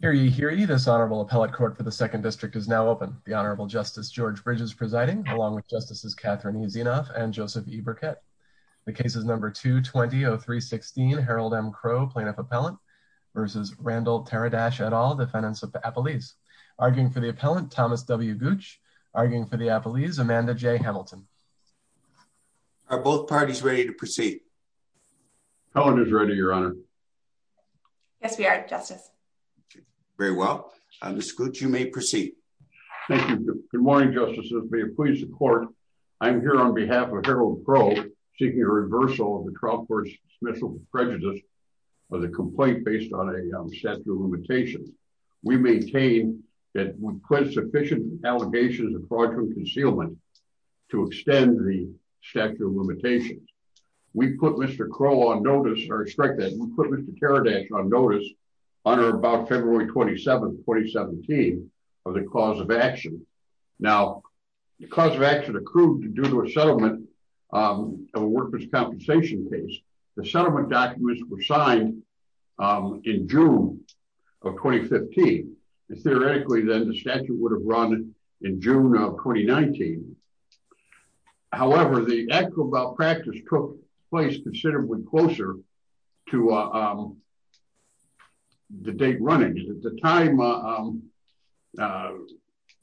Hear ye, hear ye. This Honorable Appellate Court for the Second District is now open. The Honorable Justice George Bridges presiding, along with Justices Catherine E. Zinoff and Joseph E. Burkett. The case is number 220316, Harold M. Crowe, Plaintiff Appellant, versus Randall Teradash et al., defendants of the Appellees. Arguing for the Appellant, Thomas W. Gooch. Arguing for the Appellees, Amanda J. Hamilton. Are both parties ready to proceed? Appellant is ready, Your Honor. Yes, we are, Justice. Very well. Ms. Gooch, you may proceed. Thank you. Good morning, Justices. May it please the Court, I am here on behalf of Harold Crowe, seeking a reversal of the trial court's dismissal of prejudice of the complaint based on a statute of limitations. We maintain that with sufficient allegations of fraudulent concealment to extend the statute of limitations. We put Mr. Crowe on notice, or strike that, we put Mr. Teradash on notice on or about February 27th, 2017, of the cause of action. Now, the cause of action accrued due to a settlement of a workers' compensation case. The settlement documents were signed in June of 2015. Theoretically, then, the statute would have run in June of 2019. However, the actual malpractice took place considerably closer to the date running. At the time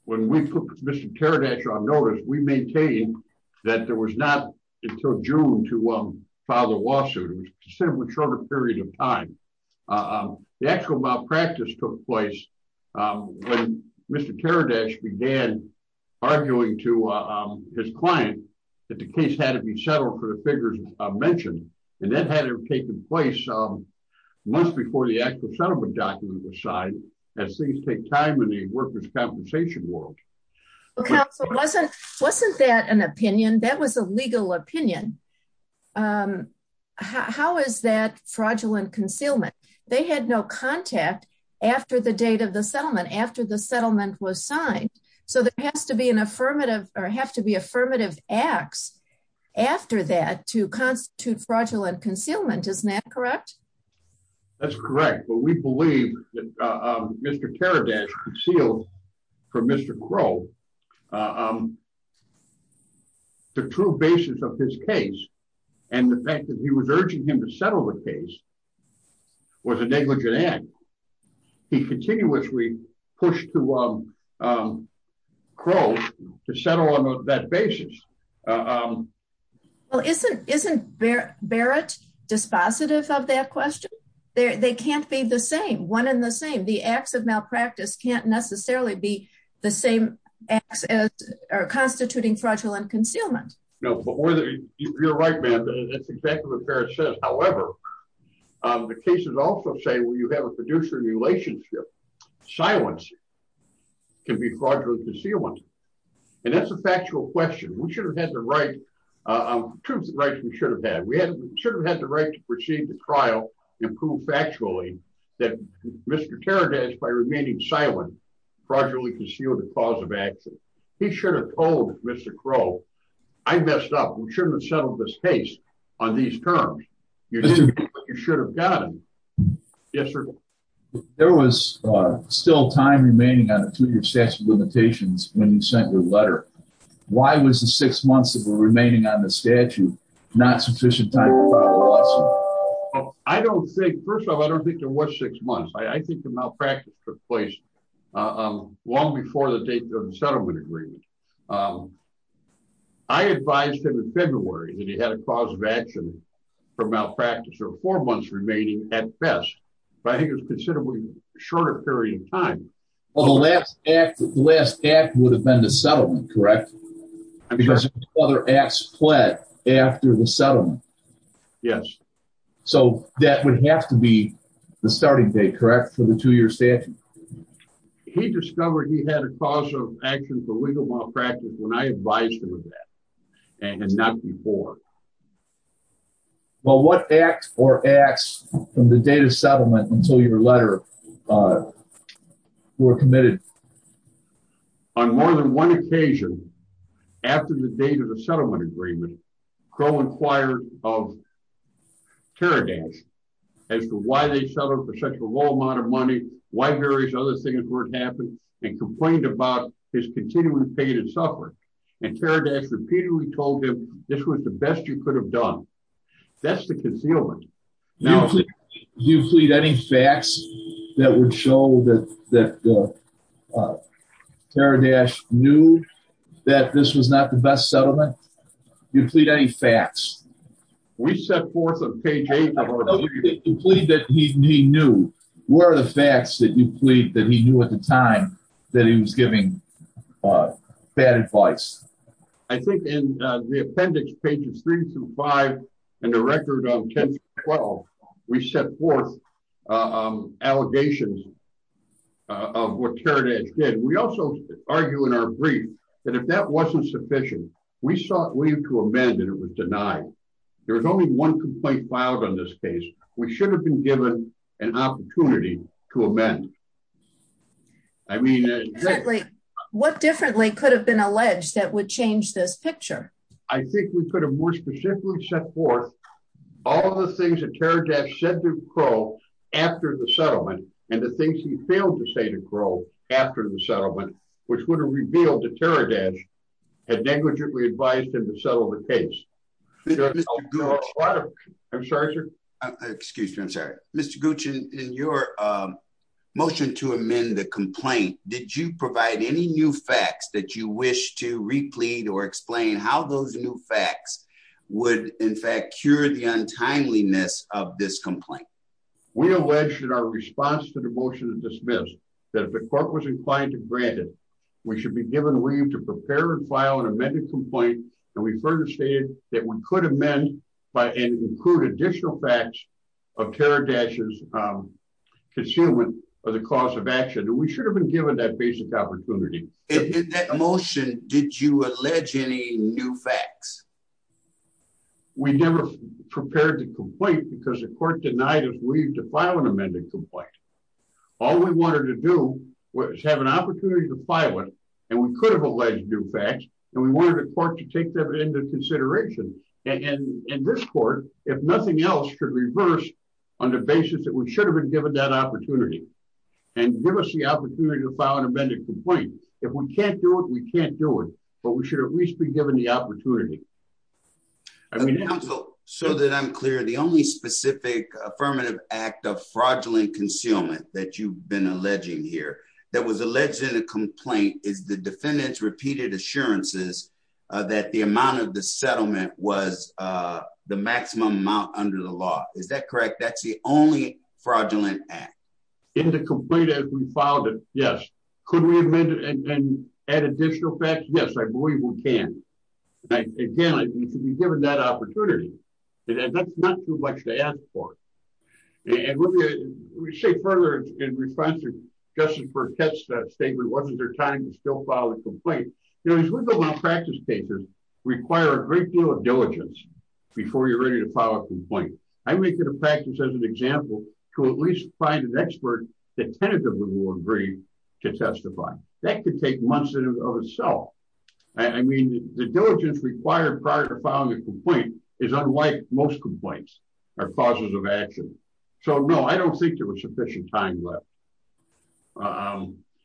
when we put Mr. Teradash on notice, we maintained that there was not until June to file the lawsuit. It was a considerably shorter period of time. The actual malpractice took place when Mr. Teradash began arguing to his client that the case had to be settled for the figures mentioned, and that had to have taken place months before the actual settlement documents were signed, as things take time in the workers' compensation world. Okay, so wasn't that an opinion? That was a legal opinion. How is that fraudulent concealment? They had no contact after the date of the settlement, after the settlement was signed, so there has to be an affirmative, or have to be affirmative acts after that to constitute fraudulent concealment. Isn't that correct? That's correct, but we believe that Mr. Teradash concealed from Mr. Crow the true basis of his case, and the fact that he was urging him to settle the case was a negligent act. He continuously pushed to Crow to settle on that basis. Well, isn't Barrett dispositive of that question? They can't be the same, one and the same. The acts of malpractice can't necessarily be the same acts as constituting fraudulent concealment. You're right, ma'am, that's exactly what Barrett says. However, the cases also say when you have a producer relationship, silence can be fraudulent concealment, and that's a factual question. We should have had the right, two rights we should have had. We should have had the right to proceed the trial and prove factually that Mr. Teradash, by remaining silent, fraudulently concealed the cause of accident. He should have told Mr. Crow, I messed up, we shouldn't have settled this case on these terms. You should have gotten it. Yes, sir? There was still time remaining on the two-year statute of limitations when you sent your letter. Why was the six months that were remaining on the statute not sufficient time to file a lawsuit? I don't think, first of all, I don't think there was six months. I think the malpractice took place long before the date of the settlement agreement. I advised him in February that he had a cause of action for malpractice or four months remaining at best, but I think it was considerably shorter period of time. Well, the last act would have been the settlement, correct? Because other acts fled after the settlement. Yes. So that would have to be the starting date, correct, for the two-year statute? He discovered he had a cause of action for legal malpractice when I advised him of that and not before. Well, what acts or acts from the date of settlement until your letter were committed? On more than one occasion, after the date of the settlement agreement, Crow inquired of Teradax as to why they settled for such a low amount of money, why various other things weren't happening, and complained about his continuing pain and suffering. And Teradax repeatedly told him, this was the best you could have done. That's the concealment. Do you plead any facts that would show that Teradax knew that this was not the best settlement? Do you plead any facts? We set forth on page 8 of our letter. You plead that he knew. What are the facts that you plead that he knew at the time that he was giving bad advice? I think in the appendix, pages 3 through 5, and the record on 10 through 12, we set forth allegations of what Teradax did. We also argue in our brief that if that wasn't sufficient, we sought leave to amend and it was denied. There was only one complaint filed on this case. We should have been given an opportunity to amend. What differently could have been alleged that would change this picture? I think we could have more specifically set forth all the things that Teradax said to Crow after the settlement, and the things he failed to say to Crow after the settlement, which would have revealed that Teradax had negligently advised him to settle the case. I'm sorry, sir. Excuse me, I'm sorry. Mr. Gooch, in your motion to amend the complaint, did you provide any new facts that you wish to replete or explain how those new facts would, in fact, cure the untimeliness of this complaint? We alleged in our response to the motion to dismiss that if the court was inclined to grant it, we should be given leave to prepare and file an amended complaint, and we further stated that we could amend and include additional facts of Teradax's concealment of the cause of action, and we should have been given that basic opportunity. In that motion, did you allege any new facts? We never prepared the complaint because the court denied us leave to file an amended complaint. All we wanted to do was have an opportunity to file it, and we could have alleged new facts, and we wanted the court to take that into consideration, and this court, if nothing else, should reverse on the basis that we should have been given that opportunity and give us the opportunity to file an amended complaint. If we can't do it, we can't do it, but we should at least be given the opportunity. Counsel, so that I'm clear, the only specific affirmative act of fraudulent concealment that you've been alleging here that was alleged in the complaint is the defendant's assurances that the amount of the settlement was the maximum amount under the law. Is that correct? That's the only fraudulent act? In the complaint that we filed, yes. Could we amend it and add additional facts? Yes, I believe we can. Again, we should be given that opportunity, and that's not too much to ask for. And let me say further in response to Justice Burkett's statement, wasn't there time to go file a complaint? You know, as we go on practice cases, require a great deal of diligence before you're ready to file a complaint. I make it a practice as an example to at least find an expert that tentatively will agree to testify. That could take months in and of itself. I mean, the diligence required prior to filing a complaint is unlike most complaints or causes of action. So, no, I don't think there was sufficient time left.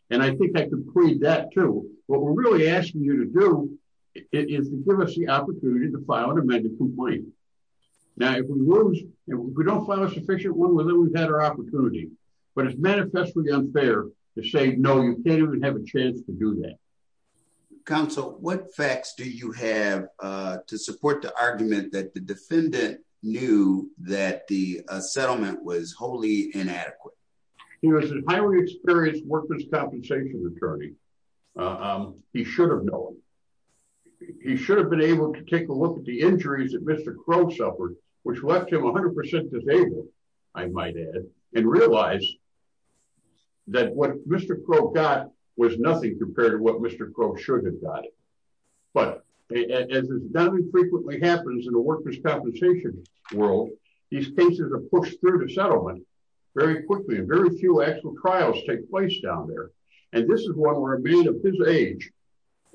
And I think I can plead that, too. What we're really asking you to do is to give us the opportunity to file an amended complaint. Now, if we don't file a sufficient one, then we've had our opportunity. But it's manifestly unfair to say, no, you can't even have a chance to do that. Counsel, what facts do you have to support the argument that the defendant knew that the settlement was wholly inadequate? He was a highly experienced workman's compensation attorney. He should have known. He should have been able to take a look at the injuries that Mr. Crow suffered, which left him 100% disabled, I might add, and realize that what Mr. Crow got was nothing compared to what Mr. Crow should have got. But as is not infrequently happens in the workman's compensation world, these cases are pushed through the settlement very quickly. And very few actual trials take place down there. And this is one where a man of his age,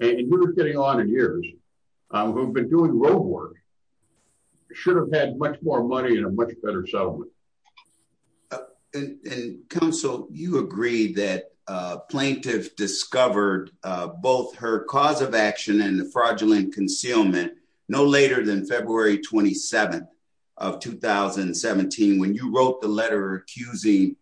and we were getting on in years, who had been doing road work, should have had much more money and a much better settlement. And, Counsel, you agree that a plaintiff discovered both her cause of action and the fraudulent concealment no later than February 27th of 2017, when you wrote the letter accusing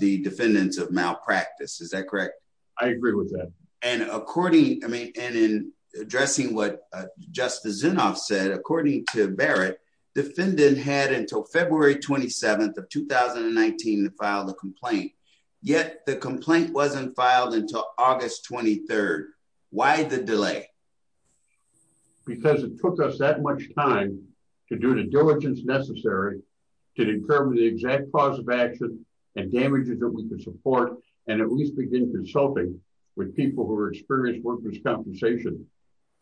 the defendants of malpractice. Is that correct? I agree with that. And according, I mean, and in addressing what Justice Zinoff said, according to Barrett, defendant had until February 27th of 2019 to file the complaint. Yet the complaint wasn't filed until August 23rd. Why the delay? Because it took us that much time to do the diligence necessary to determine the exact cause of action and damages that we could support, and at least begin consulting with people who are experienced workers' compensation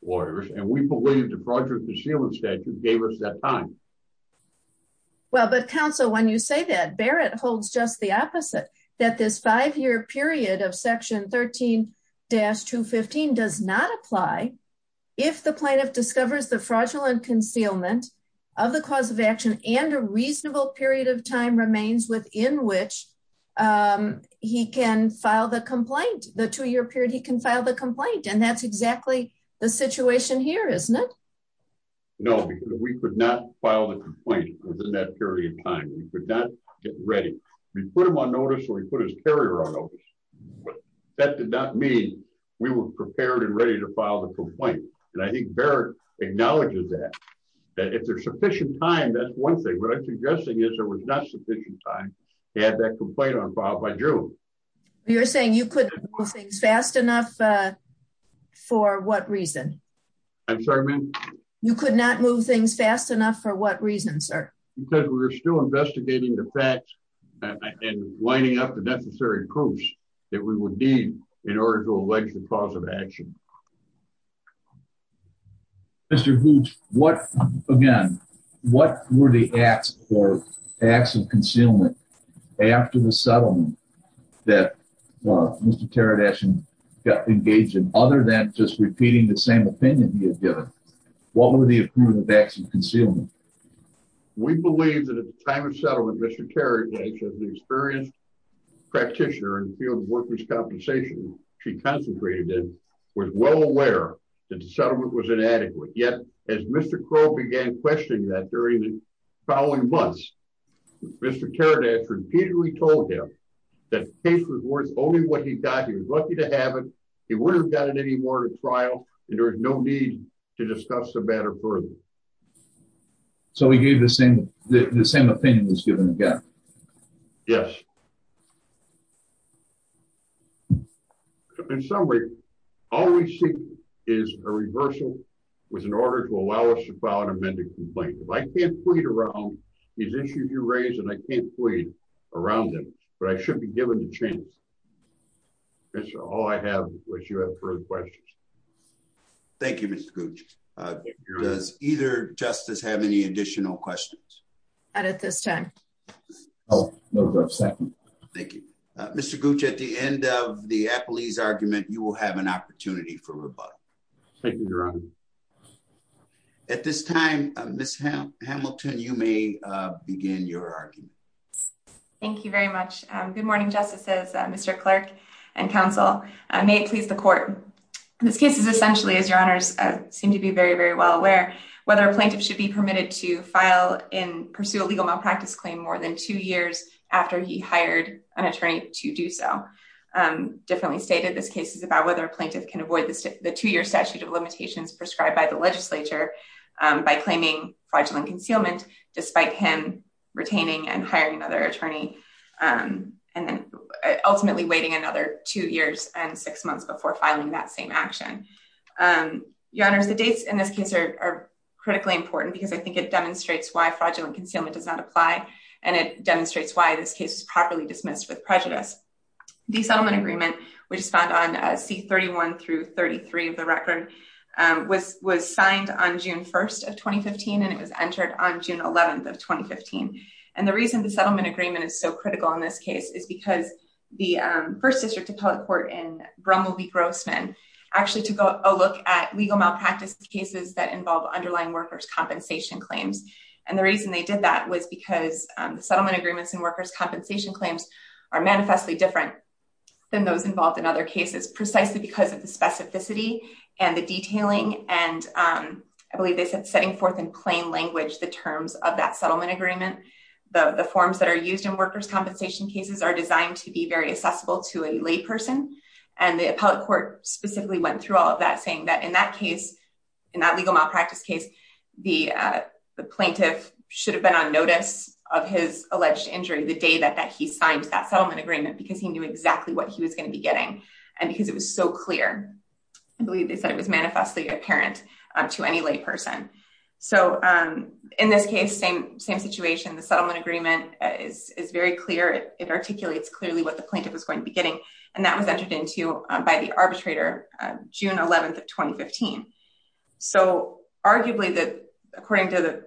lawyers. And we believe the fraudulent concealment statute gave us that time. Well, but, Counsel, when you say that, Barrett holds just the opposite, that this five-year period of Section 13-215 does not apply if the plaintiff discovers the fraudulent concealment of the cause of action and a reasonable period of time remains within which he can file the complaint, the two-year period he can file the complaint. And that's exactly the situation here, isn't it? No, because we could not file the complaint within that period of time. We could not get ready. We put him on notice or we put his carrier on notice. That did not mean we were prepared and ready to file the complaint. And I think Barrett acknowledges that, that if there's sufficient time, that's one thing. What I'm suggesting is there was not sufficient time to have that complaint unfiled by June. You're saying you couldn't move things fast enough for what reason? I'm sorry, ma'am? You could not move things fast enough for what reason, sir? Because we were still investigating the facts and lining up the necessary proofs that we would need in order to allege the cause of action. Mr. Hoots, what, again, what were the acts or acts of concealment after the settlement that Mr. Teradacian got engaged in, other than just repeating the same opinion he had given? What were the acts of concealment? We believe that at the time of settlement, Mr. Teradacian, the experienced practitioner in the field of workers' compensation she concentrated in, was well aware that the settlement was inadequate. Yet, as Mr. Crowe began questioning that during the following months, Mr. Teradacian repeatedly told him that the case was worth only what he got. He was lucky to have it. He wouldn't have got it anymore at a trial, and there was no need to discuss the matter further. So he gave the same opinion as given again? Yes. In summary, all we seek is a reversal with an order to allow us to file an amended complaint. If I can't plead around these issues you raised, then I can't plead around them. But I should be given the chance. That's all I have, unless you have further questions. Thank you, Mr. Cooch. Does either justice have any additional questions? Not at this time. No, sir. Second. Thank you. Mr. Cooch, at the end of the appellee's argument, you will have an opportunity for rebuttal. Thank you, Your Honor. At this time, Ms. Hamilton, you may begin your argument. Thank you very much. Good morning, Justices, Mr. Clerk, and Counsel. May it please the Court. This case is essentially, as Your Honors seem to be very, very well aware, whether a plaintiff should be permitted to pursue a legal malpractice claim more than two years after he hired an attorney to do so. Differently stated, this case is about whether a plaintiff can avoid the two-year statute of limitations prescribed by the legislature by claiming fraudulent concealment despite him retaining and hiring another attorney and then ultimately waiting another two years and six months before filing that same action. Your Honors, the dates in this case are critically important because I think it demonstrates why fraudulent concealment does not apply and it demonstrates why this case is properly dismissed with prejudice. The settlement agreement, which is found on C-31 through 33 of the record, was signed on June 1st of 2015 and it was entered on June 11th of 2015. And the reason the settlement agreement is so critical in this case is because the First District Appellate Court in Brummel v. Grossman actually took a look at legal malpractice cases that involve underlying workers' compensation claims. And the reason they did that was because settlement agreements and workers' compensation claims are manifestly different than those involved in other cases precisely because of the specificity and the detailing and I believe they said setting forth in plain language the terms of that settlement agreement. The forms that are used in workers' compensation cases are designed to be very accessible to a layperson and the Appellate Court specifically went through all of that saying that in that case, in that legal malpractice case, the plaintiff should have been on notice of his alleged injury the day that he signed that settlement agreement because he knew exactly what he was going to be getting and because it was so clear. I believe they said it was manifestly apparent to any layperson. So in this case, same situation, the settlement agreement is very clear. It articulates clearly what the plaintiff was going to be getting and that was entered into by the arbitrator June 11th of 2015. So arguably, according to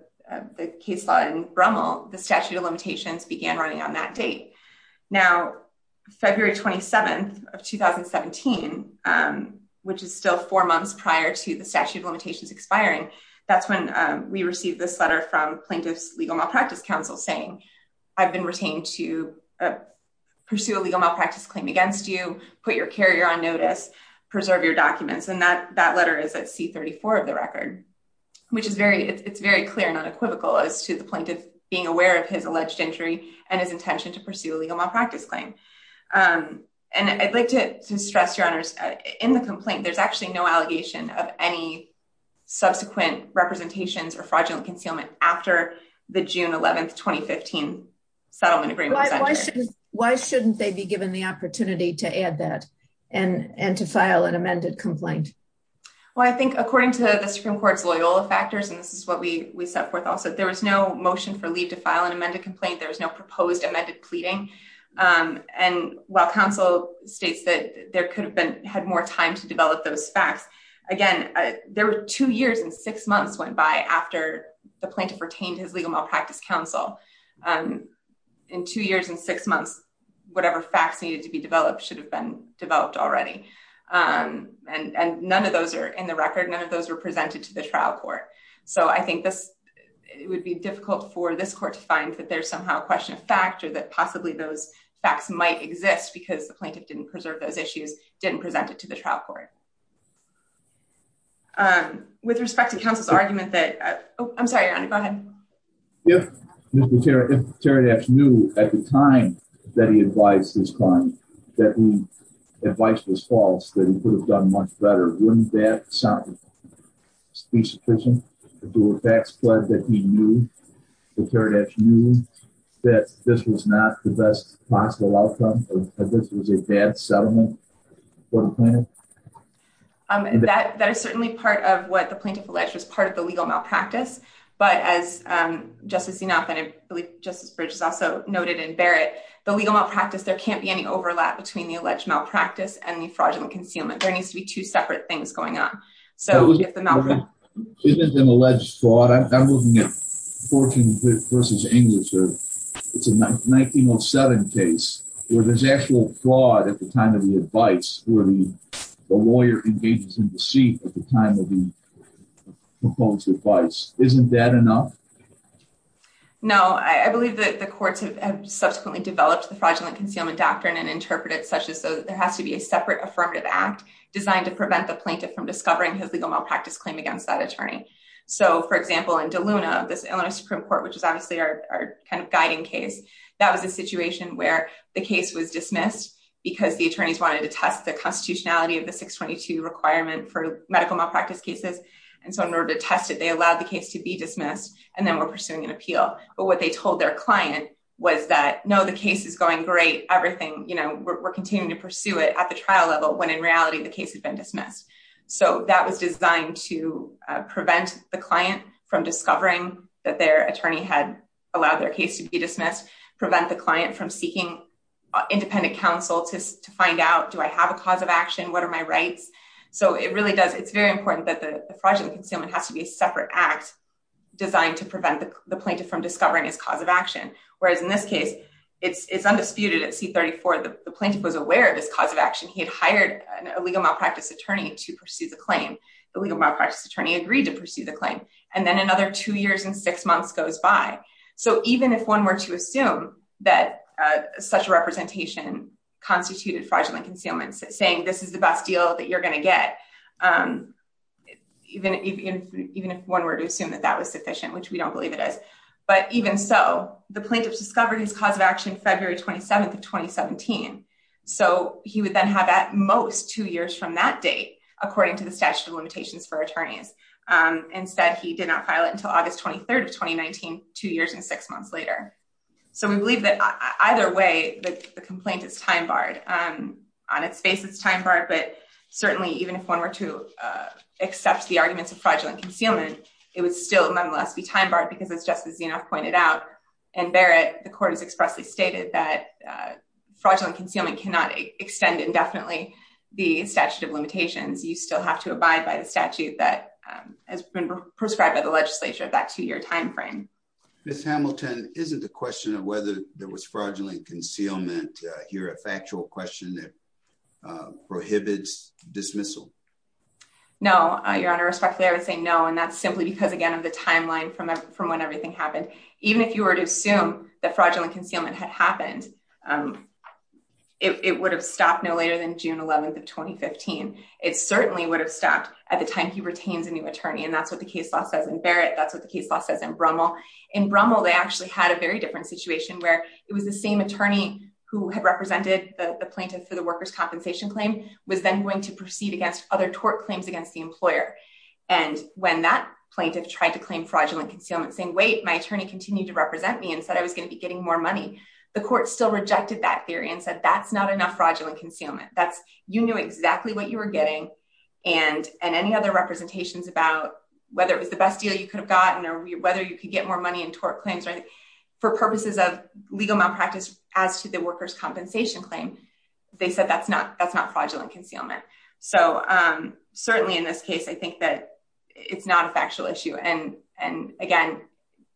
the case law in Brummel, the statute of limitations began running on that date. Now, February 27th of 2017, which is still four months prior to the statute of limitations expiring, that's when we received this letter from Plaintiff's Legal Malpractice Council saying, I've been retained to pursue a legal malpractice claim against you, put your carrier on notice, preserve your documents, and that letter is at C-34 of the record, which is very clear and unequivocal as to the plaintiff being aware of his alleged injury and his intention to pursue a legal malpractice claim. And I'd like to stress, Your Honors, in the complaint, there's actually no allegation of any subsequent representations or fraudulent concealment after the June 11th, 2015 settlement agreement. Why shouldn't they be given the opportunity to add that and to file an amended complaint? Well, I think according to the Supreme Court's Loyola factors, and this is what we set forth also, there was no motion for leave to file an amended complaint. There was no proposed amended pleading. And while counsel states that there could have been had more time to develop those facts. Again, there were two years and six months went by after the plaintiff retained his legal malpractice counsel. In two years and six months, whatever facts needed to be developed should have been developed already. And none of those are in the record. None of those were presented to the trial court. So I think this would be difficult for this court to find that there's somehow a question of fact or that possibly those facts might exist because the plaintiff didn't preserve those issues, didn't present it to the trial court. With respect to counsel's argument that, I'm sorry, Your Honor, go ahead. If Mr. Taradach knew at the time that he advised this crime, that the advice was false, that he could have done much better, wouldn't that be sufficient to do a fact spread that he knew, that Taradach knew that this was not the best possible outcome, that this was a bad settlement for the plaintiff? That is certainly part of what the plaintiff alleged was part of the legal malpractice. But as Justice Zinoff and I believe Justice Bridges also noted in Barrett, the legal malpractice, there can't be any overlap between the alleged malpractice and the fraudulent concealment. There needs to be two separate things going on. Isn't it an alleged fraud? I'm looking at Fortune v. English. It's a 1907 case where there's actual fraud at the time of the advice, where the lawyer engages in deceit at the time of the proposed advice. Isn't that enough? No, I believe that the courts have subsequently developed the fraudulent concealment doctrine and interpreted it such as there has to be a separate affirmative act designed to prevent the plaintiff from discovering his legal malpractice claim against that attorney. So, for example, in DeLuna, this Illinois Supreme Court, which is obviously our kind of guiding case, that was a situation where the case was dismissed because the attorneys wanted to test the constitutionality of the 622 requirement for medical malpractice cases. And so in order to test it, they allowed the case to be dismissed and then were pursuing an appeal. But what they told their client was that, no, the case is going great. Everything, you know, we're continuing to pursue it at the trial level when in reality the case had been dismissed. So that was designed to prevent the client from discovering that their attorney had allowed their case to be dismissed, prevent the client from seeking independent counsel to find out, do I have a cause of action? What are my rights? So it really does. It's very important that the fraudulent concealment has to be a separate act designed to prevent the plaintiff from discovering his cause of action. Whereas in this case, it's undisputed at C-34, the plaintiff was aware of this cause of action. He had hired an illegal malpractice attorney to pursue the claim. The legal malpractice attorney agreed to pursue the claim. And then another two years and six months goes by. So even if one were to assume that such a representation constituted fraudulent concealment, saying this is the best deal that you're going to get, even if one were to assume that that was sufficient, which we don't believe it is. But even so, the plaintiffs discovered his cause of action February 27th of 2017. So he would then have at most two years from that date, according to the statute of limitations for attorneys, and said he did not file it until August 23rd of 2019, two years and six months later. So we believe that either way, the complaint is time barred. On its face, it's time barred. But certainly, even if one were to accept the arguments of fraudulent concealment, it would still nonetheless be time barred because, as Justice Zinoff pointed out, and Barrett, the court has expressly stated that fraudulent concealment cannot extend indefinitely the statute of limitations. You still have to abide by the statute that has been prescribed by the legislature of that two year time frame. Ms. Hamilton, isn't the question of whether there was fraudulent concealment here a factual question that prohibits dismissal? No, Your Honor, respectfully, I would say no. And that's simply because, again, of the timeline from when everything happened. Even if you were to assume that fraudulent concealment had happened, it would have stopped no later than June 11th of 2015. It certainly would have stopped at the time he retains a new attorney. And that's what the case law says in Barrett. That's what the case law says in Brummel. In Brummel, they actually had a very different situation where it was the same attorney who had represented the plaintiff for the workers' compensation claim, was then going to proceed against other tort claims against the employer. And when that plaintiff tried to claim fraudulent concealment, saying, wait, my attorney continued to represent me and said I was going to be getting more money. The court still rejected that theory and said that's not enough fraudulent concealment. That's you knew exactly what you were getting and and any other representations about whether it was the best deal you could have gotten or whether you could get more money in tort claims. For purposes of legal malpractice as to the workers' compensation claim, they said that's not that's not fraudulent concealment. So certainly in this case, I think that it's not a factual issue. And and again,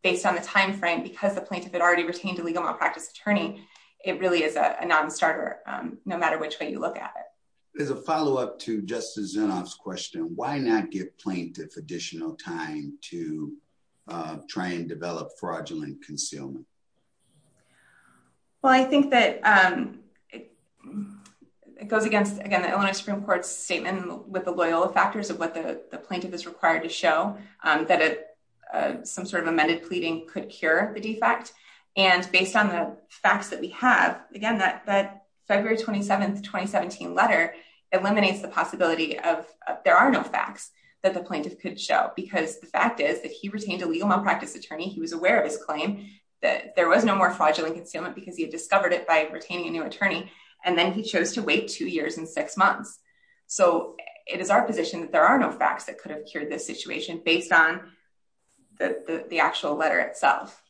based on the time frame, because the plaintiff had already retained a legal malpractice attorney. It really is a nonstarter, no matter which way you look at it. There's a follow up to Justice Zinoff's question. Why not give plaintiff additional time to try and develop fraudulent concealment? Well, I think that it goes against, again, the Illinois Supreme Court's statement with the loyal factors of what the plaintiff is required to show that some sort of amended pleading could cure the defect. And based on the facts that we have, again, that that February 27th, 2017 letter eliminates the possibility of there are no facts that the plaintiff could show, because the fact is that he retained a legal malpractice attorney. He was aware of his claim that there was no more fraudulent concealment because he had discovered it by retaining a new attorney. And then he chose to wait two years and six months. So it is our position that there are no facts that could have cured this situation based on the actual letter itself.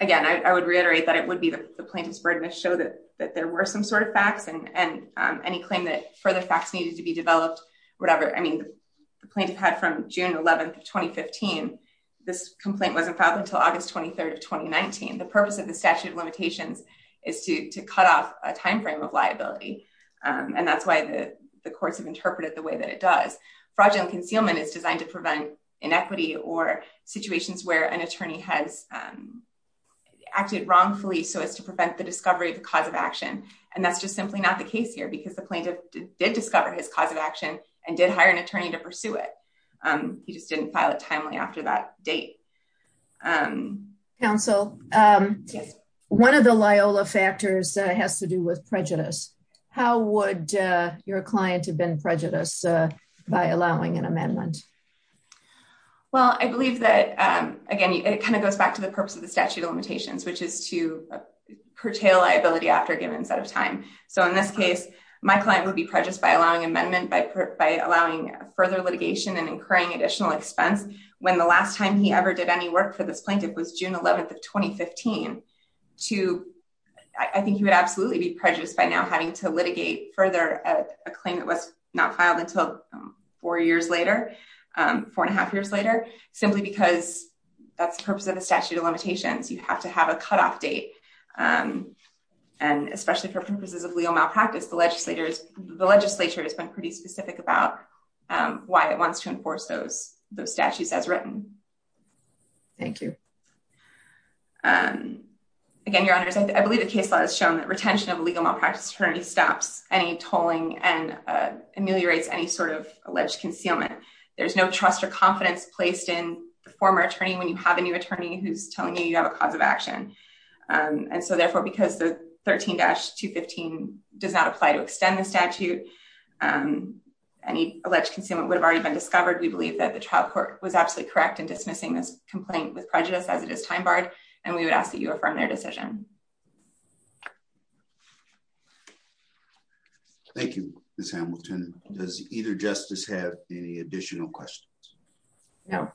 Again, I would reiterate that it would be the plaintiff's burden to show that there were some sort of facts and any claim that further facts needed to be developed, whatever. I mean, the plaintiff had from June 11th, 2015, this complaint wasn't filed until August 23rd of 2019. The purpose of the statute of limitations is to cut off a time frame of liability. And that's why the courts have interpreted the way that it does. Fraudulent concealment is designed to prevent inequity or situations where an attorney has acted wrongfully so as to prevent the discovery of the cause of action. And that's just simply not the case here, because the plaintiff did discover his cause of action and did hire an attorney to pursue it. He just didn't file it timely after that date. Counsel, one of the Loyola factors has to do with prejudice. How would your client have been prejudiced by allowing an amendment? Well, I believe that, again, it kind of goes back to the purpose of the statute of limitations, which is to curtail liability after a given set of time. So in this case, my client would be prejudiced by allowing amendment by allowing further litigation and incurring additional expense. When the last time he ever did any work for this plaintiff was June 11th of 2015 to I think he would absolutely be prejudiced by now having to litigate further a claim that was not filed until four years later. Four and a half years later, simply because that's the purpose of the statute of limitations. You have to have a cutoff date. And especially for purposes of legal malpractice, the legislature has been pretty specific about why it wants to enforce those statutes as written. Thank you. And again, your honors, I believe the case has shown that retention of legal malpractice attorney stops any tolling and ameliorates any sort of alleged concealment. There's no trust or confidence placed in the former attorney when you have a new attorney who's telling you you have a cause of action. And so therefore, because the 13 dash to 15 does not apply to extend the statute, any alleged concealment would have already been discovered. We believe that the child court was absolutely correct in dismissing this complaint with prejudice as it is time barred. And we would ask that you affirm their decision. Thank you. Does either justice have any additional questions? No.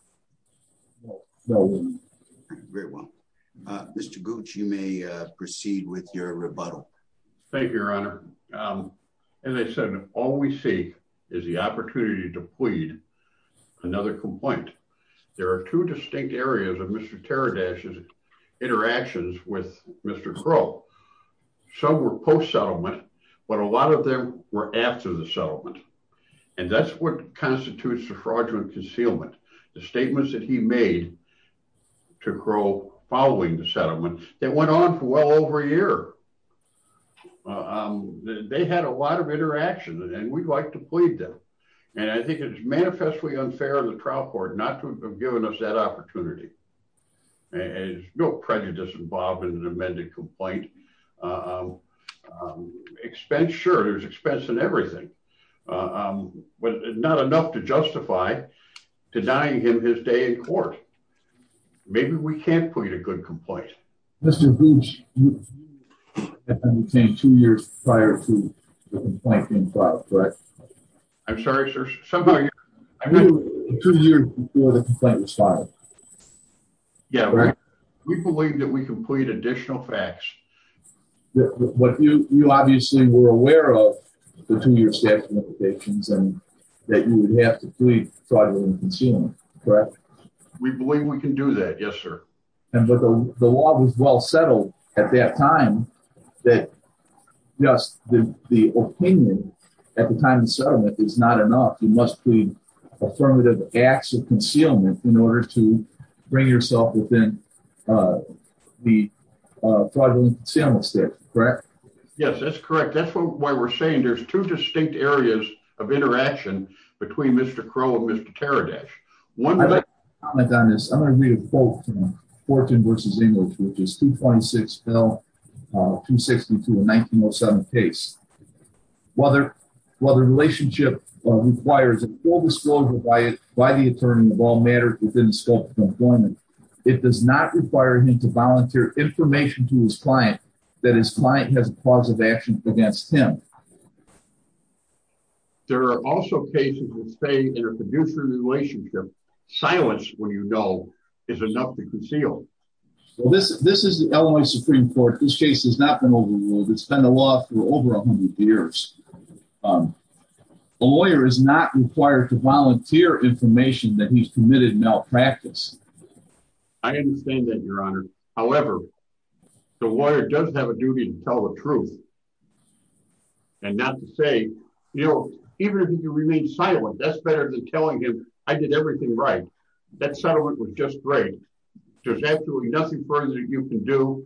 Very well. Mr. Gooch, you may proceed with your rebuttal. Thank you, Your Honor. As I said, all we see is the opportunity to plead another complaint. There are two distinct areas of Mr. Teradash's interactions with Mr. Crow. Some were post-settlement, but a lot of them were after the settlement. And that's what constitutes the fraudulent concealment. The statements that he made to Crow following the settlement, they went on for well over a year. They had a lot of interaction, and we'd like to plead them. And I think it's manifestly unfair of the trial court not to have given us that opportunity. There's no prejudice involved in an amended complaint. Expense, sure, there's expense in everything. But not enough to justify denying him his day in court. Maybe we can't plead a good complaint. Mr. Gooch, you said two years prior to the complaint being filed, correct? I'm sorry, sir? Two years before the complaint was filed. Yeah, we believe that we can plead additional facts. You obviously were aware of the two-year statute of limitations and that you would have to plead fraudulent concealment, correct? We believe we can do that, yes, sir. But the law was well settled at that time that just the opinion at the time of settlement is not enough. You must plead affirmative acts of concealment in order to bring yourself within the fraudulent concealment statute, correct? Yes, that's correct. That's why we're saying there's two distinct areas of interaction between Mr. Crow and Mr. Teradesh. I'd like to comment on this. I'm going to read a quote from Fortin v. Inglis, which is 226-262 of 1907 case. While the relationship requires a full disclosure by the attorney of all matter within the scope of employment, it does not require him to volunteer information to his client that his client has a cause of action against him. There are also cases which say in a producer relationship, silence when you know is enough to conceal. This is the Illinois Supreme Court. This case has not been overruled. It's been a law for over a hundred years. A lawyer is not required to volunteer information that he's committed malpractice. I understand that, Your Honor. However, the lawyer does have a duty to tell the truth and not to say, you know, even if you remain silent, that's better than telling him I did everything right. That settlement was just great. There's absolutely nothing further that you can do.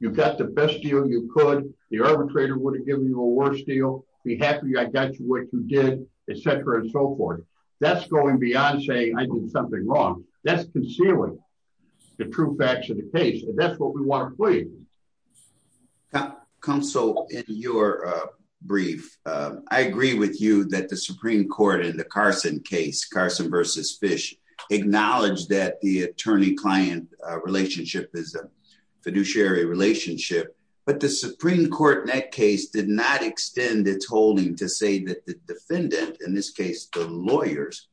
You've got the best deal you could. The arbitrator would have given you a worse deal. Be happy I got you what you did, et cetera, and so forth. That's going beyond saying I did something wrong. That's concealing the true facts of the case, and that's what we want to plead. Counsel, in your brief, I agree with you that the Supreme Court in the Carson case, Carson v. Fish, acknowledged that the attorney-client relationship is a fiduciary relationship, but the Supreme Court in that case did not extend its holding to say that the defendant, in this case the lawyers,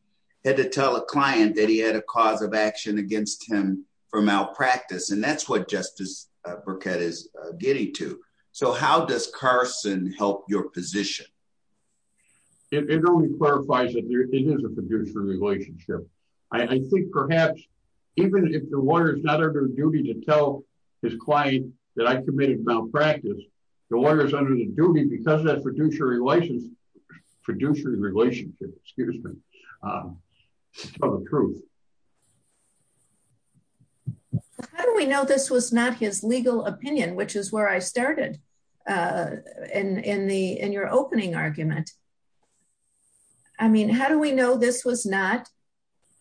had to tell a client that he had a cause of action against him for malpractice, and that's what Justice Burkett is getting to. So how does Carson help your position? It only clarifies that it is a fiduciary relationship. I think perhaps even if the lawyer is not under the duty to tell his client that I committed malpractice, the lawyer is under the duty because of that fiduciary relationship of the truth. How do we know this was not his legal opinion, which is where I started in your opening argument? I mean, how do we know this was not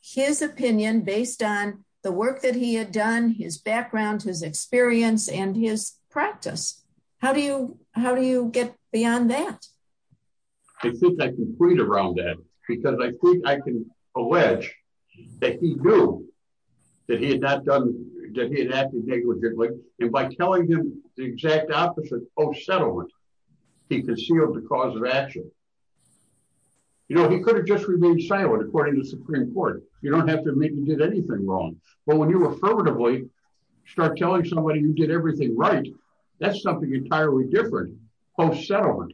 his opinion based on the work that he had done, his background, his experience, and his practice? How do you get beyond that? I think I can plead around that because I think I can allege that he knew that he had not done, that he had acted negligently, and by telling him the exact opposite post-settlement, he concealed the cause of action. You know, he could have just remained silent, according to the Supreme Court. You don't have to make him do anything wrong, but when you affirmatively start telling somebody you did everything right, that's something entirely different post-settlement,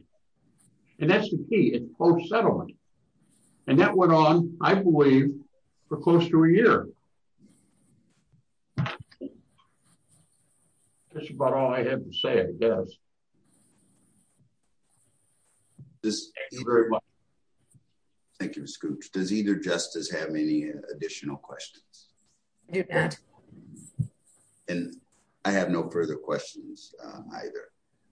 and that's the key. It's post-settlement, and that went on, I believe, for close to a year. That's about all I have to say, I guess. Thank you very much. Thank you, Mr. Cooch. Does either justice have any additional questions? I do not. And I have no further questions either.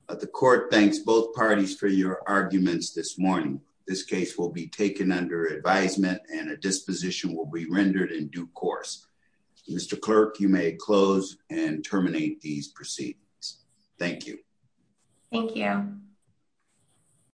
The court thanks both parties for your arguments this morning. This case will be taken under advisement, and a disposition will be rendered in due course. Mr. Clerk, you may close and terminate these proceedings. Thank you. Thank you.